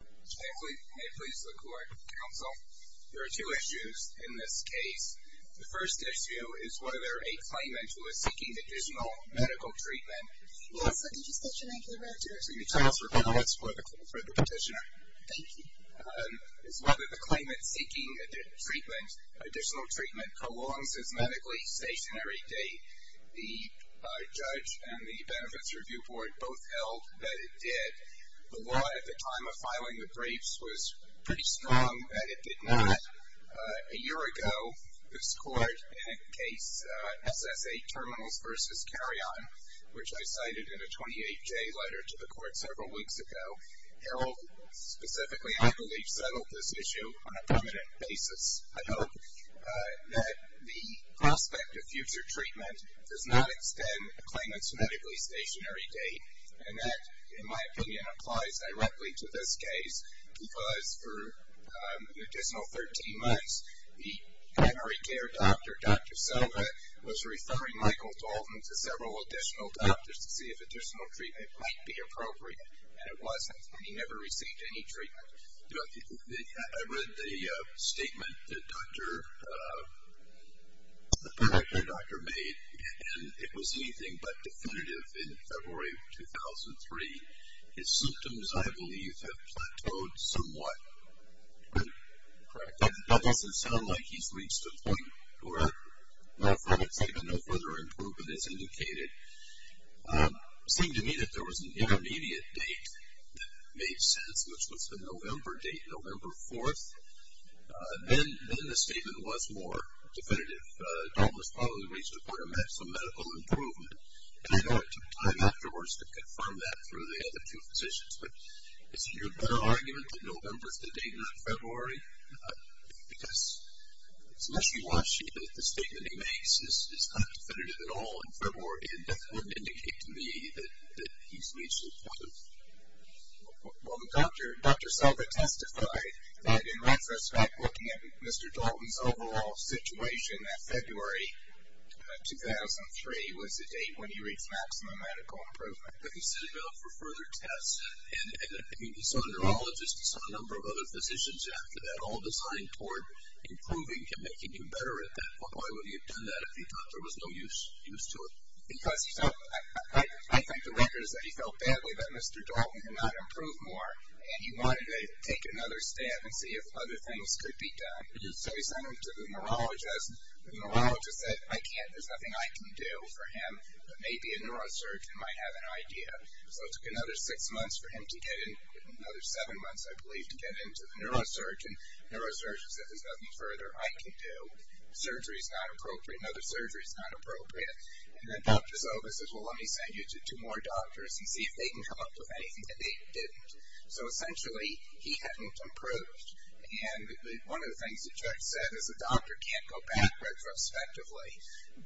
May it please the Court, Counsel. There are two issues in this case. The first issue is whether a claimant who is seeking additional medical treatment Yes, what did you state your name for the record? I'm going to transfer comments for the petitioner. Thank you. is whether the claimant seeking additional treatment prolongs his medically stationary date. The judge and the Benefits Review Board both held that it did. The law at the time of filing the briefs was pretty strong that it did not. A year ago, this Court in a case, SSA Terminals v. Carrion, which I cited in a 28-J letter to the Court several weeks ago, held specifically, I believe, settled this issue on a permanent basis. I hope that the prospect of future treatment does not extend a claimant's medically stationary date, and that, in my opinion, applies directly to this case because for an additional 13 months, the primary care doctor, Dr. Silva, was referring Michael Dalton to several additional doctors to see if additional treatment might be appropriate, and it wasn't, and he never received any treatment. I read the statement that the primary care doctor made, and it was anything but definitive in February of 2003. His symptoms, I believe, have plateaued somewhat. That doesn't sound like he's reached a point where, from excitement, no further improvement is indicated. It seemed to me that there was an intermediate date that made sense, which was the November date, November 4th. Then the statement was more definitive. Dalton was probably reached a point of some medical improvement, and I know it took time afterwards to confirm that through the other two physicians, but is it your better argument that November is the date, not February? Because, especially watching that the statement he makes is not definitive at all in February, it doesn't indicate to me that he's reached a point of. Well, Dr. Silva testified that, in retrospect, looking at Mr. Dalton's overall situation, that February 2003 was the date when he reached maximum medical improvement. But he stood up for further tests, and he saw a neurologist, he saw a number of other physicians after that, all designed toward improving him, making him better at that point. Why would he have done that if he thought there was no use to it? Because he felt, I think the record is that he felt badly that Mr. Dalton could not improve more, and he wanted to take another stab and see if other things could be done. So he sent him to the neurologist. The neurologist said, I can't, there's nothing I can do for him. Maybe a neurosurgeon might have an idea. So it took another six months for him to get in, another seven months, I believe, to get into the neurosurgeon. The neurosurgeon said, there's nothing further I can do. Surgery is not appropriate, another surgery is not appropriate. And then Dr. Silva says, well, let me send you to two more doctors and see if they can come up with anything. And they didn't. So, essentially, he hadn't improved. And one of the things the judge said is a doctor can't go back retrospectively.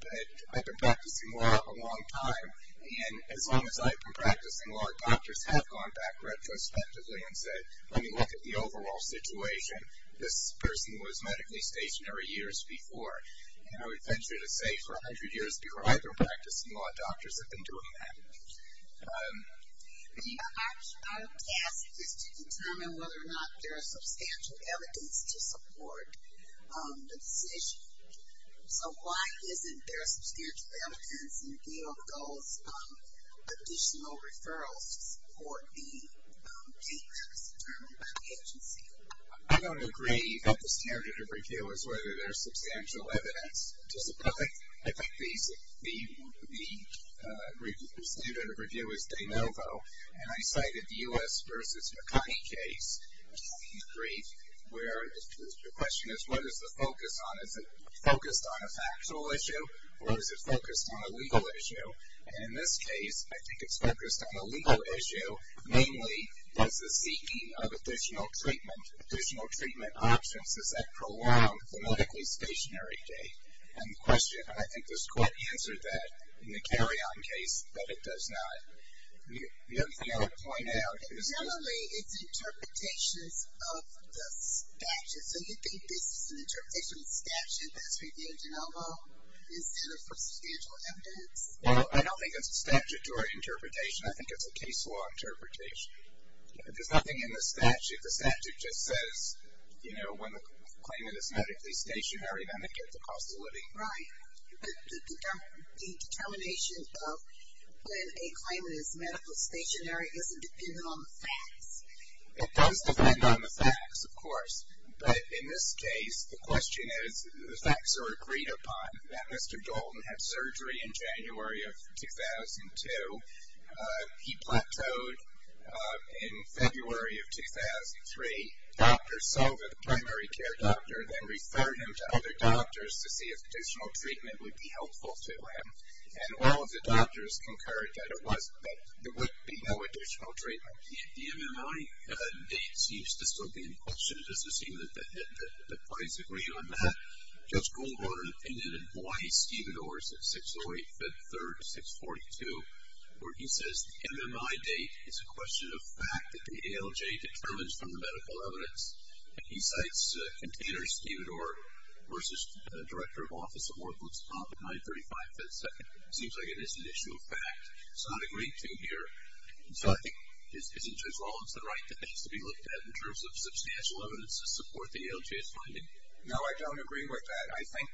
But I've been practicing law a long time, and as long as I've been practicing law, doctors have gone back retrospectively and said, let me look at the overall situation. This person was medically stationary years before. And I would venture to say for 100 years before I've been practicing law, doctors have been doing that. But our task is to determine whether or not there is substantial evidence to support the decision. So why isn't there substantial evidence in the appeal of those additional referrals to support the case that was determined by the agency? I don't agree that the standard of repeal is whether there is substantial evidence to support it. I think the standard of repeal is de novo. And I cited the U.S. versus Makani case in the brief, where the question is, what is the focus on? Is it focused on a factual issue, or is it focused on a legal issue? And in this case, I think it's focused on a legal issue, namely, does the seeking of additional treatment, additional treatment options, does that prolong the medically stationary day? And the question, I think this court answered that in the carry-on case, that it does not. The other thing I would point out is... Generally, it's interpretations of the statute. So you think this is an interpretation of the statute that's repealed de novo, instead of for substantial evidence? Well, I don't think it's a statute or interpretation. I think it's a case law interpretation. There's nothing in the statute. The statute just says, you know, when the claimant is medically stationary, then they get the cost of living. Right. But the determination of when a claimant is medically stationary isn't dependent on the facts. It does depend on the facts, of course. But in this case, the question is, the facts are agreed upon, that Mr. Dalton had surgery in January of 2002. He plateaued in February of 2003. The doctors saw that the primary care doctor then referred him to other doctors to see if additional treatment would be helpful to him. And all of the doctors concurred that there would be no additional treatment. The MMI date seems to still be in question. It doesn't seem that the parties agree on that. Judge Goldwater and then in Hawaii, Stephen Orr is at 608 Fifth Third 642, where he says the MMI date is a question of fact, that the ALJ determines from the medical evidence. He cites Container Stephen Orr versus Director of Office of Orphanage, 935 Fifth Second. It seems like it is an issue of fact. It's not agreed to here. So I think, isn't Judge Rollins right, that it has to be looked at in terms of substantial evidence to support the ALJ's finding? No, I don't agree with that. I think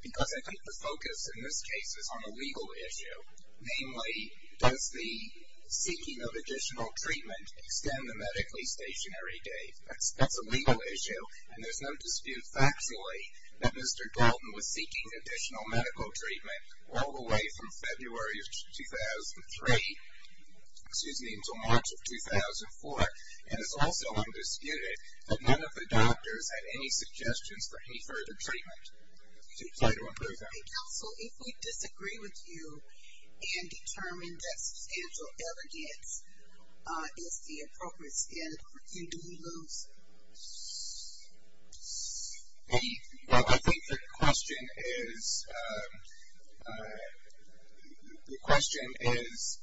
because I think the focus in this case is on a legal issue, namely, does the seeking of additional treatment extend the medically stationary date? That's a legal issue, and there's no dispute factually that Mr. Galton was seeking additional medical treatment all the way from February of 2003, excuse me, until March of 2004. And it's also undisputed that none of the doctors had any suggestions for any further treatment. So I don't approve that. And, counsel, if we disagree with you and determine that substantial evidence is the appropriate standard, do you lose? Well, I think the question is, the question is,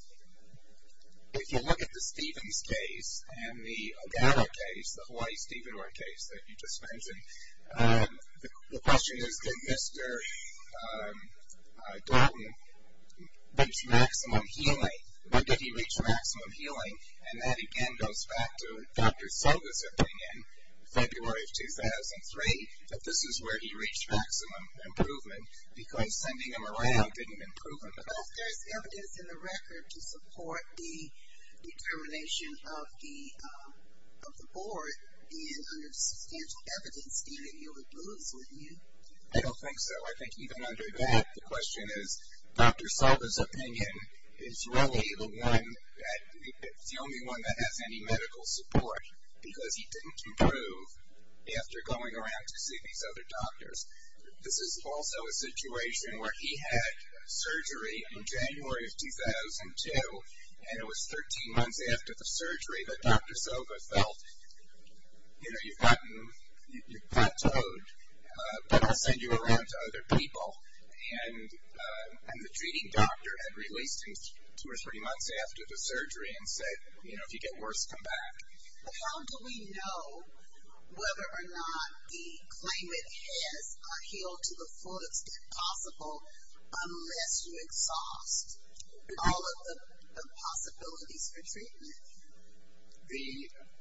if you look at the Stephens case and the Ogata case, the Hawaii Stephen Orr case that you just mentioned, the question is, did Mr. Galton reach maximum healing? When did he reach maximum healing? And that, again, goes back to Dr. Soga's opinion, February of 2003, that this is where he reached maximum improvement, because sending him around didn't improve him at all. Well, if there's evidence in the record to support the determination of the board, then under substantial evidence, even, you would lose, wouldn't you? I don't think so. I think even under that, the question is, Dr. Soga's opinion is really the one that, it's the only one that has any medical support, because he didn't improve after going around to see these other doctors. This is also a situation where he had surgery in January of 2002, and it was 13 months after the surgery that Dr. Soga felt, you know, you've gotten, you've plateaued, but I'll send you around to other people. And the treating doctor had released him two or three months after the surgery and said, you know, if you get worse, come back. But how do we know whether or not the claimant has healed to the fullest possible, unless you exhaust all of the possibilities for treatment?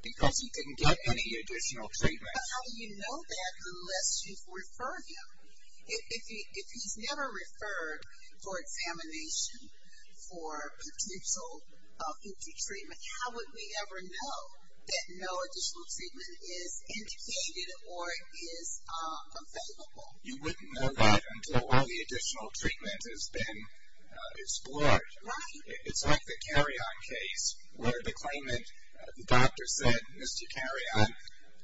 Because he didn't get any additional treatment. But how do you know that unless you've referred him? If he's never referred for examination, for potential future treatment, how would we ever know that no additional treatment is indicated or is available? You wouldn't know that until all the additional treatment has been explored. Right. It's like the carry-on case where the claimant, the doctor said, Mr. Carry-on,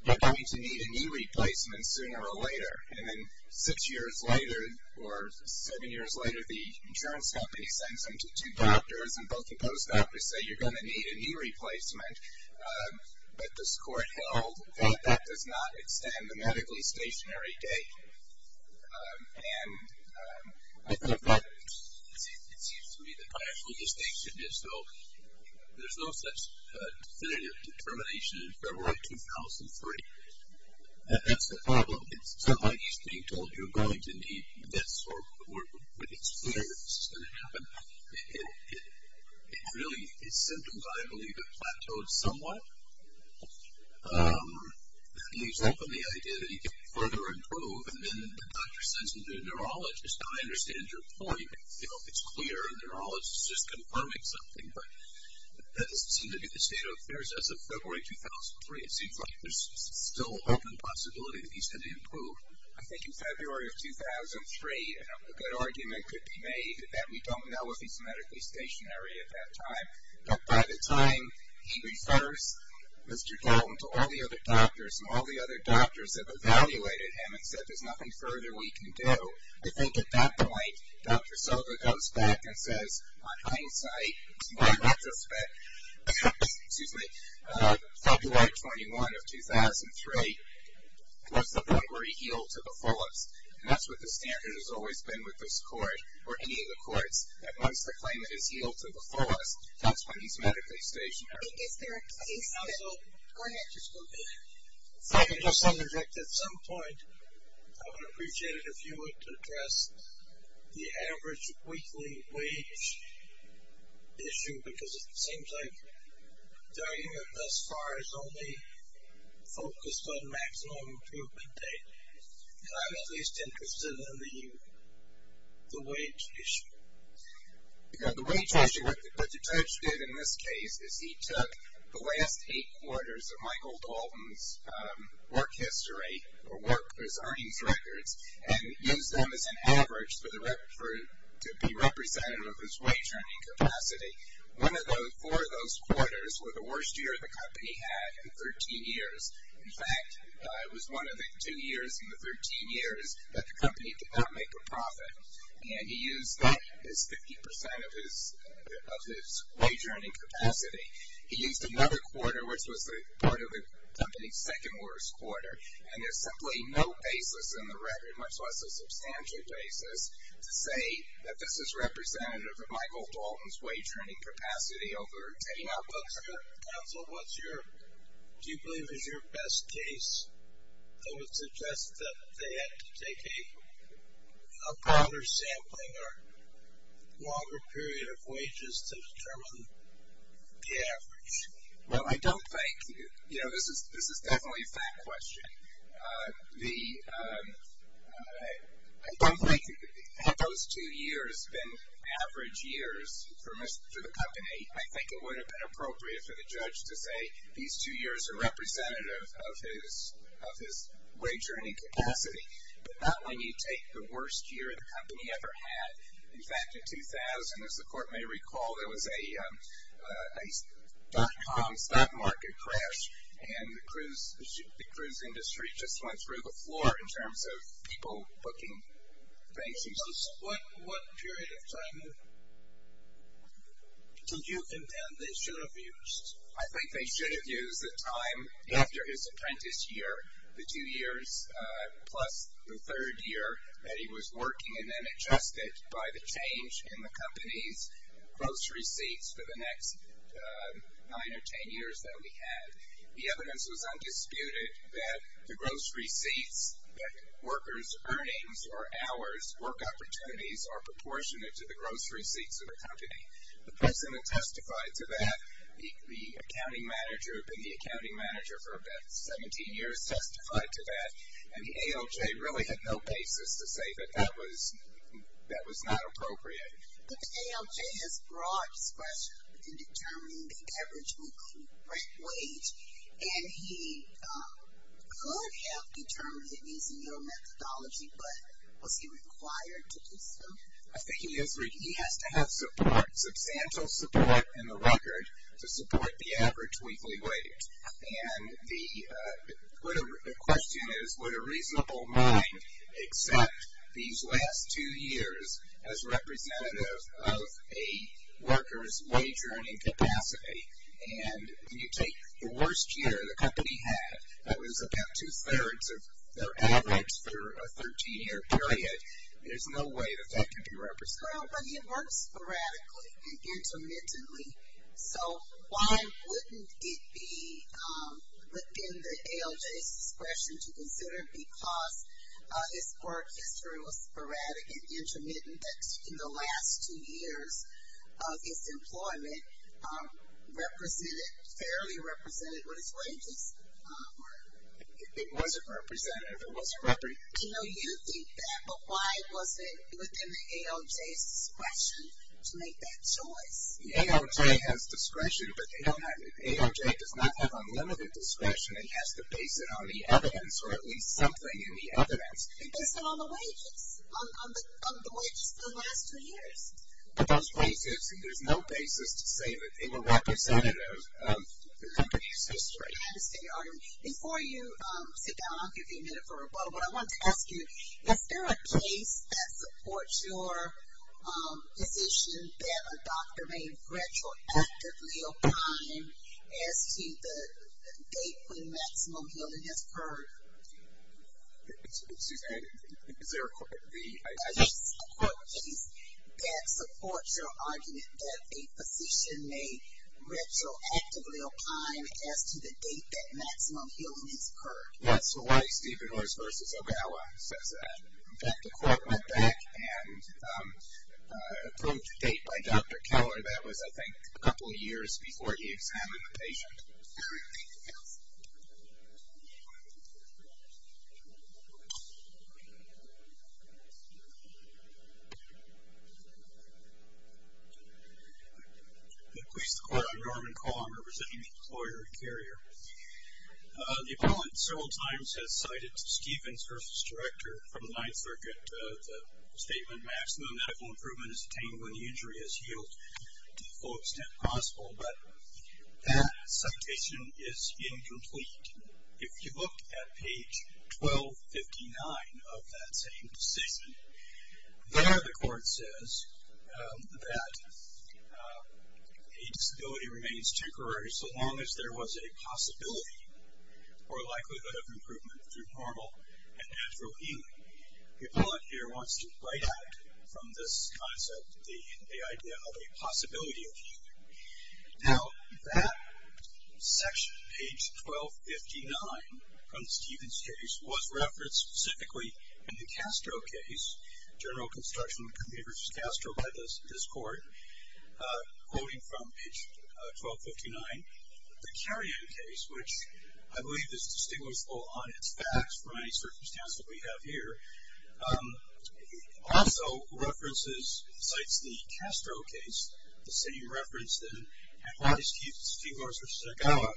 you're going to need a knee replacement sooner or later. And then six years later or seven years later, the insurance company sends him to two doctors, and both the post office say you're going to need a knee replacement. But this court held that that does not extend the medically stationary date. And it seems to me that my actual distinction is so there's no such definitive determination in February 2003. That's the problem. It's not like he's being told you're going to need this, or it's clear this is going to happen. It really is symptoms I believe have plateaued somewhat. That leaves open the idea that he can further improve. And then the doctor sends him to a neurologist. I understand your point. It's clear a neurologist is just confirming something. But that doesn't seem to be the state of affairs as of February 2003. It seems like there's still an open possibility that he's going to improve. I think in February of 2003 a good argument could be made that we don't know if he's medically stationary at that time. But by the time he refers Mr. Carroll to all the other doctors, and all the other doctors have evaluated him and said there's nothing further we can do, I think at that point Dr. Silva goes back and says, On hindsight, in retrospect, February 21 of 2003 was the point where he healed to the fullest. And that's what the standard has always been with this court, or any of the courts, that once the claimant is healed to the fullest, that's when he's medically stationary. Is there a case that... Go ahead. If I can just interject at some point, I would appreciate it if you would address the average weekly wage issue, because it seems like the argument thus far is only focused on maximum improvement data. And I'm at least interested in the wage issue. The wage issue, what the judge did in this case, is he took the last eight quarters of Michael Dalton's work history, or his earnings records, and used them as an average to be representative of his wage earning capacity. Four of those quarters were the worst year the company had in 13 years. In fact, it was one of the two years in the 13 years that the company did not make a profit. And he used 50% of his wage earning capacity. He used another quarter, which was part of the company's second worst quarter. And there's simply no basis in the record, much less a substantial basis, to say that this is representative of Michael Dalton's wage earning capacity over taking out books. Counsel, do you believe this is your best case? I would suggest that they had to take a broader sampling or longer period of wages to determine the average. Well, I don't think, you know, this is definitely a fact question. I don't think had those two years been average years for the company, I think it would have been appropriate for the judge to say these two years are representative of his wage earning capacity, but not when you take the worst year the company ever had. In fact, in 2000, as the court may recall, there was a dot-com stock market crash, and the cruise industry just went through the floor in terms of people booking vacancies. What period of time did you contend they should have used? I think they should have used the time after his apprentice year, the two years plus the third year that he was working, and then adjusted by the change in the company's gross receipts for the next nine or ten years that we had. The evidence was undisputed that the gross receipts, that workers' earnings or hours, work opportunities, are proportionate to the gross receipts of the company. The president testified to that. The accounting manager had been the accounting manager for about 17 years, testified to that, and the ALJ really had no basis to say that that was not appropriate. But the ALJ has broad discretion in determining the average weekly rent wage, and he could have determined it using your methodology, but was he required to do so? I think he has to have substantial support in the record to support the average weekly wage. And the question is, would a reasonable mind accept these last two years as representative of a worker's wage earning capacity? And you take the worst year the company had, that was about two-thirds of their average for a 13-year period. There's no way that that could be represented. Well, but he had worked sporadically and intermittently, so why wouldn't it be within the ALJ's discretion to consider it because his work history was sporadic and intermittent, that in the last two years, his employment represented, fairly represented his wages? It wasn't representative. It wasn't representative. You know, you think that, but why was it within the ALJ's discretion to make that choice? The ALJ has discretion, but they don't have, the ALJ does not have unlimited discretion. It has to base it on the evidence, or at least something in the evidence. Based it on the wages, on the wages for the last two years. But those wages, there's no basis to say that they were representative of the company's history. Before you sit down, I'll give you a minute for a moment. I wanted to ask you, is there a case that supports your position that a doctor may retroactively opine as to the date when maximum yielding has occurred? Is there a court case that supports your argument that a physician may retroactively opine as to the date that maximum yielding has occurred? Yes, Hawaii Steven Horse v. Ogawa says that. In fact, the court went back and approved the date by Dr. Keller. That was, I think, a couple of years before he examined the patient. Anything else? I'm going to please the court. I'm Norman Colom, representing the employer and carrier. The appellant several times has cited Steven Horse's director from the Ninth Circuit, the statement, maximum medical improvement is attained when the injury is healed to the full extent possible. But that citation is incomplete. If you look at page 1259 of that same statement, there the court says that a disability remains temporary so long as there was a possibility or likelihood of improvement through normal and natural healing. The appellant here wants to write out from this concept the idea of a possibility of healing. Now, that section, page 1259 from Steven's case, was referenced specifically in the Castro case, General Construction of Computers Castro by this court, quoting from page 1259. The carrion case, which I believe is distinguishable on its facts from any circumstance that we have here, also references, cites the Castro case, the same reference that at least Steve Horse, which is a gala,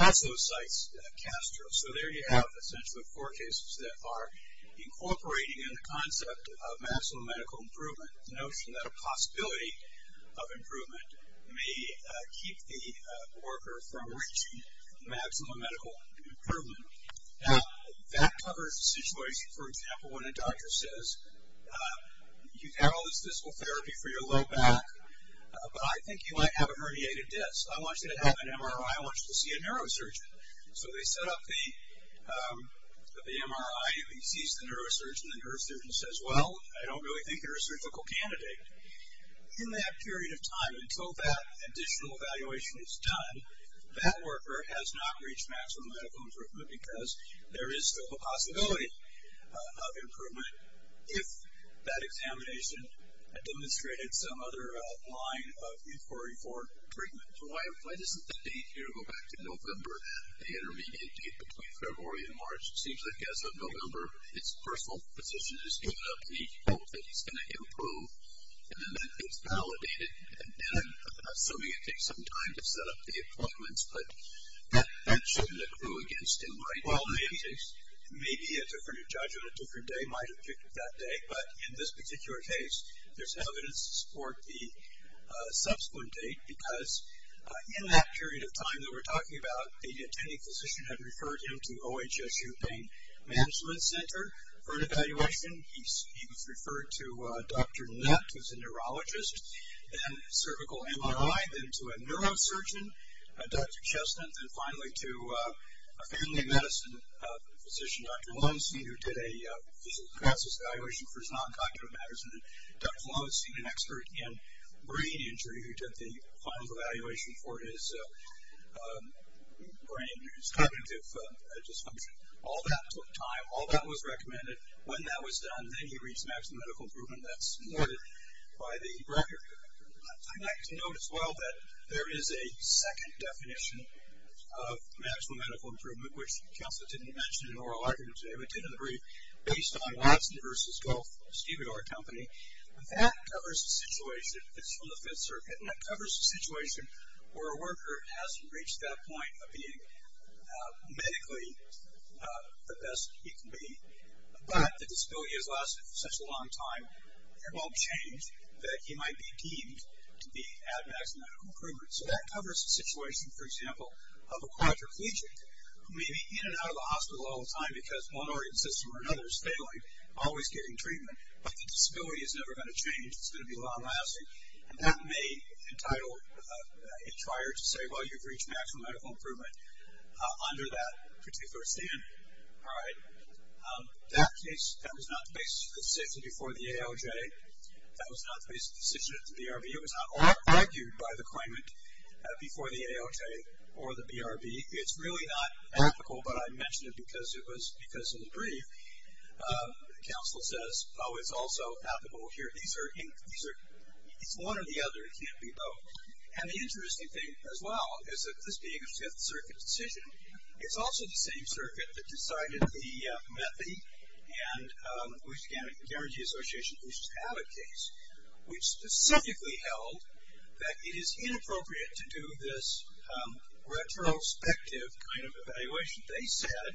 also cites Castro. So there you have essentially four cases that are incorporating in the concept of maximum medical improvement, the notion that a possibility of improvement may keep the worker from reaching maximum medical improvement. Now, that covers the situation, for example, when a doctor says, you have all this physical therapy for your low back, but I think you might have a herniated disc. I want you to have an MRI. I want you to see a neurosurgeon. So they set up the MRI. He sees the neurosurgeon. The neurosurgeon says, well, I don't really think you're a surgical candidate. In that period of time, until that additional evaluation is done, that worker has not reached maximum medical improvement, because there is still the possibility of improvement if that examination demonstrated some other line of euphoria for treatment. So why doesn't that date here go back to November, the intermediate date between February and March? It seems like as of November, its personal position is giving up the hope that it's going to improve, and then it's validated. And I'm assuming it takes some time to set up the appointments, but that shouldn't accrue against him, right? Well, maybe a different judge on a different day might have picked that day, but in this particular case, there's evidence to support the subsequent date, because in that period of time that we're talking about, the attending physician had referred him to the OHSU Pain Management Center for an evaluation. He was referred to Dr. Nutt, who's a neurologist, then cervical MRI, then to a neurosurgeon, Dr. Chestnut, and finally to a family medicine physician, Dr. Lundstein, who did a physical analysis evaluation for his non-cognitive matters, and Dr. Lundstein, an expert in brain injury, who did the final evaluation for his cognitive dysfunction. All that took time. All that was recommended. When that was done, then he reached maximum medical improvement. That's supported by the record. I'd like to note as well that there is a second definition of maximum medical improvement, which Counselor didn't mention in oral arguments, but we did in the brief, based on Watson v. Goff, a Stevedore company. That covers a situation that's from the Fifth Circuit, and that covers a situation where a worker has reached that point of being medically the best he can be, but the disability has lasted for such a long time, it won't change that he might be deemed to be at maximum improvement. So that covers a situation, for example, of a quadriplegic who may be in and out of the hospital all the time because one organ system or another is failing, always getting treatment, but the disability is never going to change. It's going to be long lasting. And that may entitle a trier to say, well, you've reached maximum medical improvement under that particular standard. All right. That case, that was not the basic decision before the ALJ. That was not the basic decision at the BRB. It was not argued by the claimant before the ALJ or the BRB. It's really not ethical, but I mention it because it was because of the brief. The counsel says, oh, it's also ethical here. These are one or the other. It can't be both. And the interesting thing as well is that this being a Fifth Circuit decision, it's also the same circuit that decided the MEPI and the Lewis County Energy Association Bush's Habit case. We specifically held that it is inappropriate to do this retrospective kind of evaluation. They said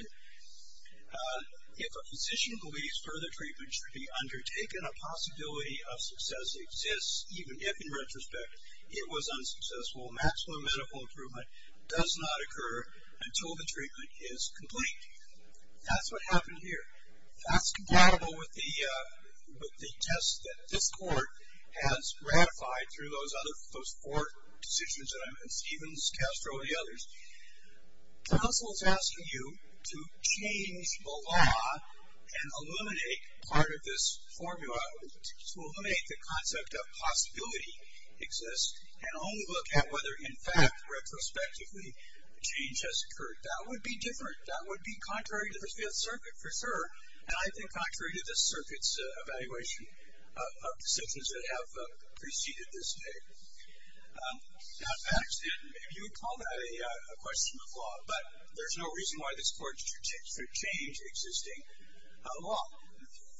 if a physician believes further treatment should be undertaken, a possibility of success exists even if, in retrospect, it was unsuccessful. Maximum medical improvement does not occur until the treatment is complete. That's what happened here. That's compatible with the test that this court has ratified through those four decisions that I mentioned, Stevens, Castro, and the others. The counsel is asking you to change the law and eliminate part of this formula, to eliminate the concept of possibility exists and only look at whether, in fact, retrospectively, change has occurred. That would be different. That would be contrary to the Fifth Circuit, for sure, and I think contrary to this circuit's evaluation of decisions that have preceded this date. Now, facts, and maybe you would call that a question of law, but there's no reason why this court should change existing law.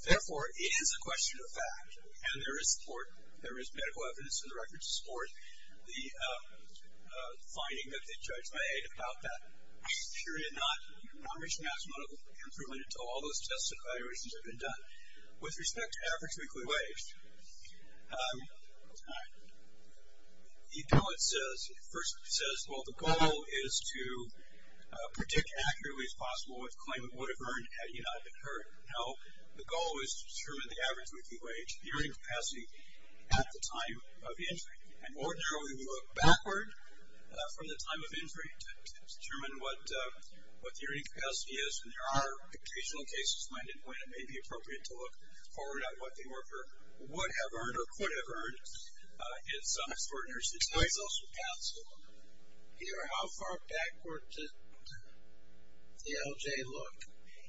Therefore, it is a question of fact, and there is support. There is medical evidence in the records to support the finding that the judge made about that. I'm sure he did not reach maximum improvement until all those tests and evaluations had been done. With respect to average weekly wage, you know what it says. It first says, well, the goal is to predict accurately as possible what the claimant would have earned had he not occurred. Now, the goal is to determine the average weekly wage, the earning capacity, at the time of injury. In ordinary, we would look backward from the time of injury to determine what the earning capacity is, and there are occasional cases when it may be appropriate to look forward at what the worker would have earned or could have earned in some extraordinary situations. Here, how far backward did the LJ look?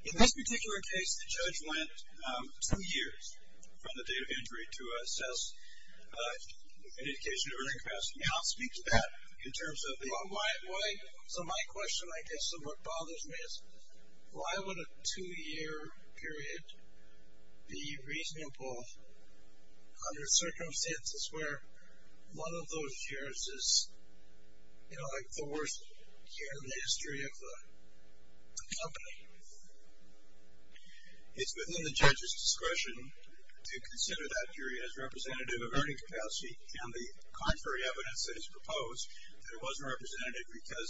In this particular case, the judge went two years from the date of injury to assess an indication of earning capacity. Now, speak to that in terms of the... So my question, I guess, somewhat bothers me is, why would a two-year period be reasonable under circumstances where one of those years is, you know, like the worst year in the history of the company? It's within the judge's discretion to consider that period as representative of earning capacity, and the contrary evidence that is proposed that it wasn't representative because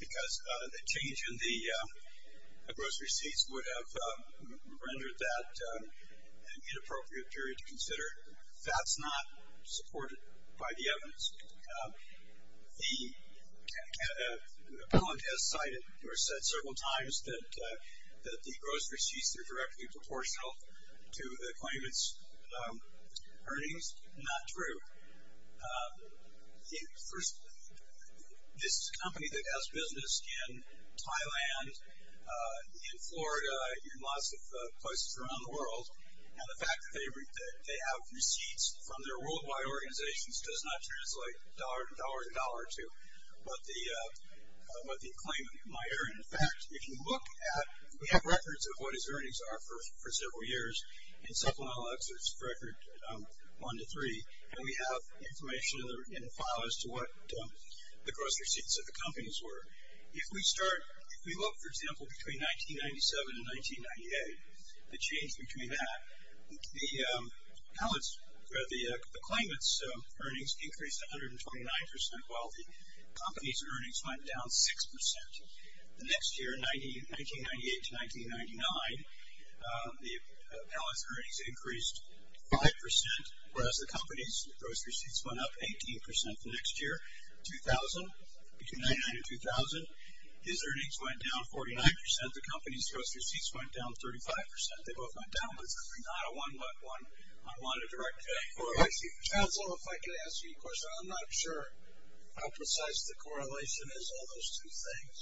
the change in the gross receipts would have rendered that an inappropriate period to consider. That's not supported by the evidence. The appellant has cited or said several times that the gross receipts are directly proportional to the claimant's earnings. Not true. First, this company that does business in Thailand, in Florida, in lots of places around the world, and the fact that they have receipts from their worldwide organizations does not translate dollar to dollar to dollar to what the claimant might earn. In fact, if you look at, we have records of what his earnings are for several years, and supplemental exits for record one to three, and we have information in the file as to what the gross receipts of the companies were. If we start, if we look, for example, between 1997 and 1998, the change between that, the claimant's earnings increased 129 percent while the company's earnings went down 6 percent. The next year, 1998 to 1999, the appellant's earnings increased 5 percent, whereas the company's gross receipts went up 18 percent. The next year, 2000, between 1999 and 2000, his earnings went down 49 percent, the company's gross receipts went down 35 percent. They both went down. It's not a one-but-one. I want to directly correlate to you. Chancellor, if I could ask you a question. I'm not sure how precise the correlation is, all those two things,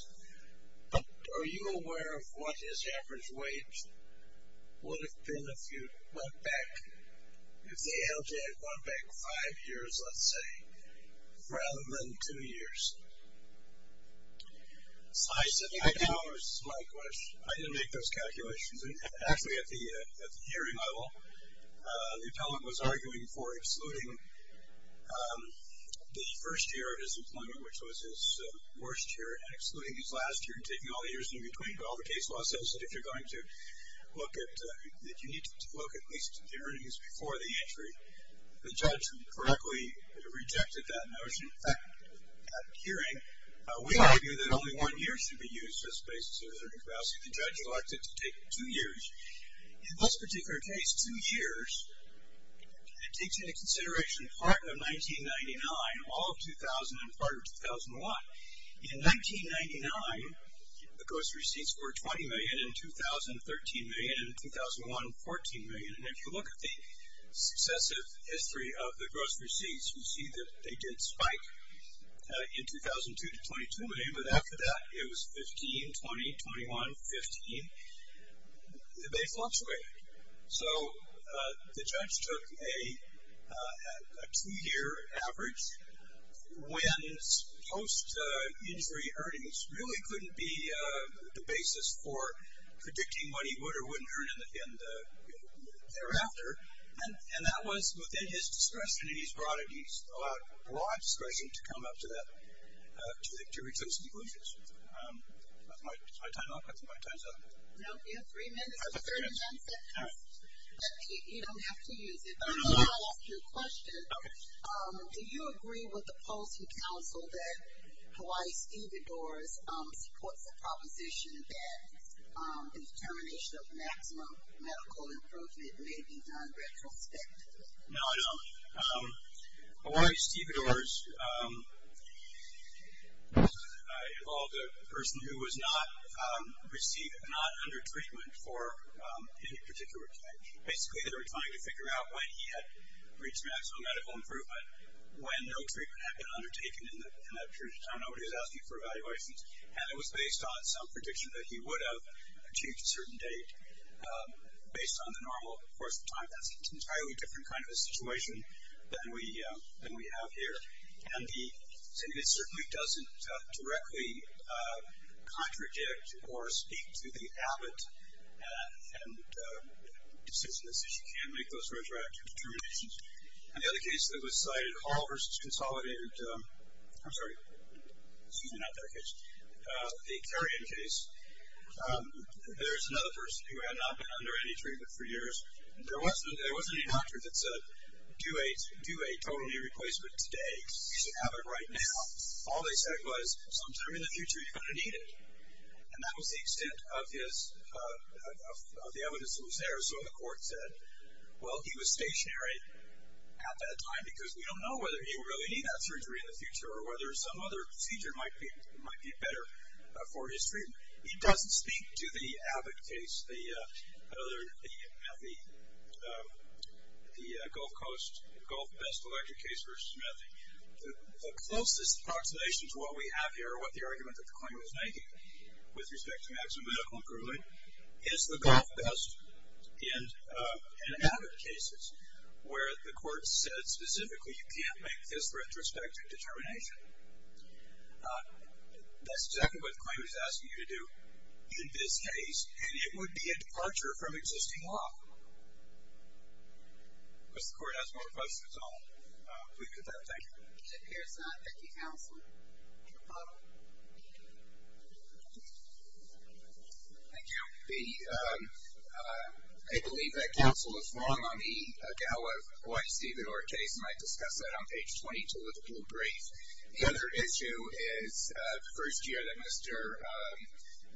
but are you aware of what his average wage would have been if you went back, if the ALJ had gone back five years, let's say, rather than two years? I didn't make those calculations. Actually, at the hearing level, the appellant was arguing for excluding the first year of his employment, which was his worst year, and excluding his last year and taking all the years in between, but all the case law says that if you're going to look at, that you need to look at least at the earnings before the entry. The judge correctly rejected that notion. In fact, at the hearing, we argue that only one year should be used as a basis of a certain capacity. The judge elected to take two years. In this particular case, two years takes into consideration part of 1999, all of 2000, and part of 2001. In 1999, the gross receipts were $20 million. In 2000, $13 million. In 2001, $14 million. And if you look at the successive history of the gross receipts, you see that they did spike in 2002 to 2002, but after that, it was 15, 20, 21, 15. They fluctuated. So the judge took a two-year average when post-injury earnings really couldn't be the basis for predicting what he would or wouldn't earn thereafter, and that was within his discretion, and he's allowed broad discretion to come up to that, to reach those conclusions. Is my time up? I think my time's up. No, you have three minutes. I've got three minutes. But you don't have to use it. I just want to ask you a question. Okay. Do you agree with the policy council that Hawaii Steve Edores supports the proposition that the determination of maximum medical improvement may be done retrospectively? No, I don't. Hawaii Steve Edores involved a person who was not under treatment for any particular time. Basically, they were trying to figure out when he had reached maximum medical improvement, when no treatment had been undertaken in that period of time. Nobody was asking for evaluations. And it was based on some prediction that he would have achieved a certain date, based on the normal course of time. That's an entirely different kind of a situation than we have here. And it certainly doesn't directly contradict or speak to the habit and decision that says you can't make those retroactive determinations. And the other case that was cited, Hall v. Consolidated, I'm sorry, excuse me, not that case, the Carrion case. There's another person who had not been under any treatment for years. There wasn't any doctor that said, do a total knee replacement today. You should have it right now. All they said was, sometime in the future, you're going to need it. And that was the extent of the evidence that was there. So the court said, well, he was stationary at that time, because we don't know whether he will really need that surgery in the future or whether some other procedure might be better for his treatment. He doesn't speak to the Abbott case, the Gulf Coast, Gulf Best electric case versus Methi. The closest approximation to what we have here, or what the argument that the claimant was making with respect to maximum medical approval is the Gulf Best and Abbott cases, where the court said specifically you can't make this retrospective determination. That's exactly what the claimant is asking you to do in this case, and it would be a departure from existing law. If the court has more questions, I'll leave it at that. Thank you. It appears not. Thank you, counsel. Thank you. I believe that counsel is wrong on the O.I. Steven Ortiz, and I discussed that on page 22 of the brief. The other issue is the first year that Mr.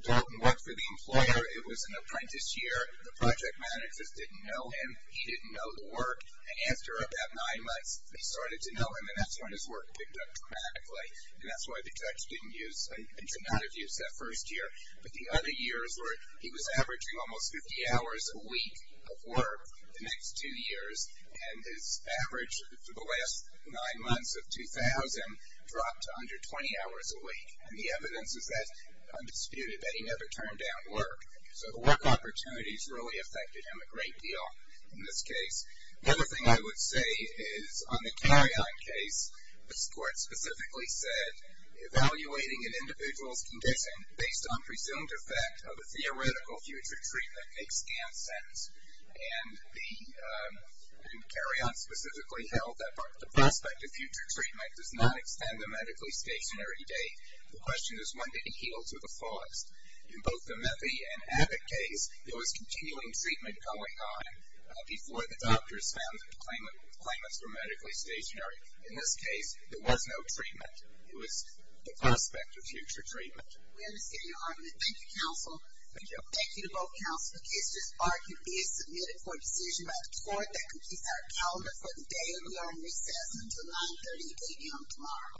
Dalton worked for the employer, it was an apprentice year. The project managers didn't know him. He didn't know the work. After about nine months, they started to know him, and that's when his work picked up dramatically, and that's why the judge did not have use that first year. But the other years were he was averaging almost 50 hours a week of work the next two years, and his average for the last nine months of 2000 dropped to under 20 hours a week, and the evidence is that he never turned down work. So the work opportunities really affected him a great deal in this case. The other thing I would say is on the Carrion case, the court specifically said evaluating an individual's condition based on presumed effect of a theoretical future treatment makes sense, and Carrion specifically held that the prospect of future treatment does not extend a medically stationary date. The question is when did he heal to the fullest? In both the Methy and Abbott case, there was continuing treatment going on before the doctors found that the claimants were medically stationary. In this case, there was no treatment. It was the prospect of future treatment. We understand your argument. Thank you, counsel. Thank you. Thank you to both counsel. In case this bar can be submitted for a decision by the court that completes our calendar for the day, we are in recess until 930 at 8 a.m. tomorrow.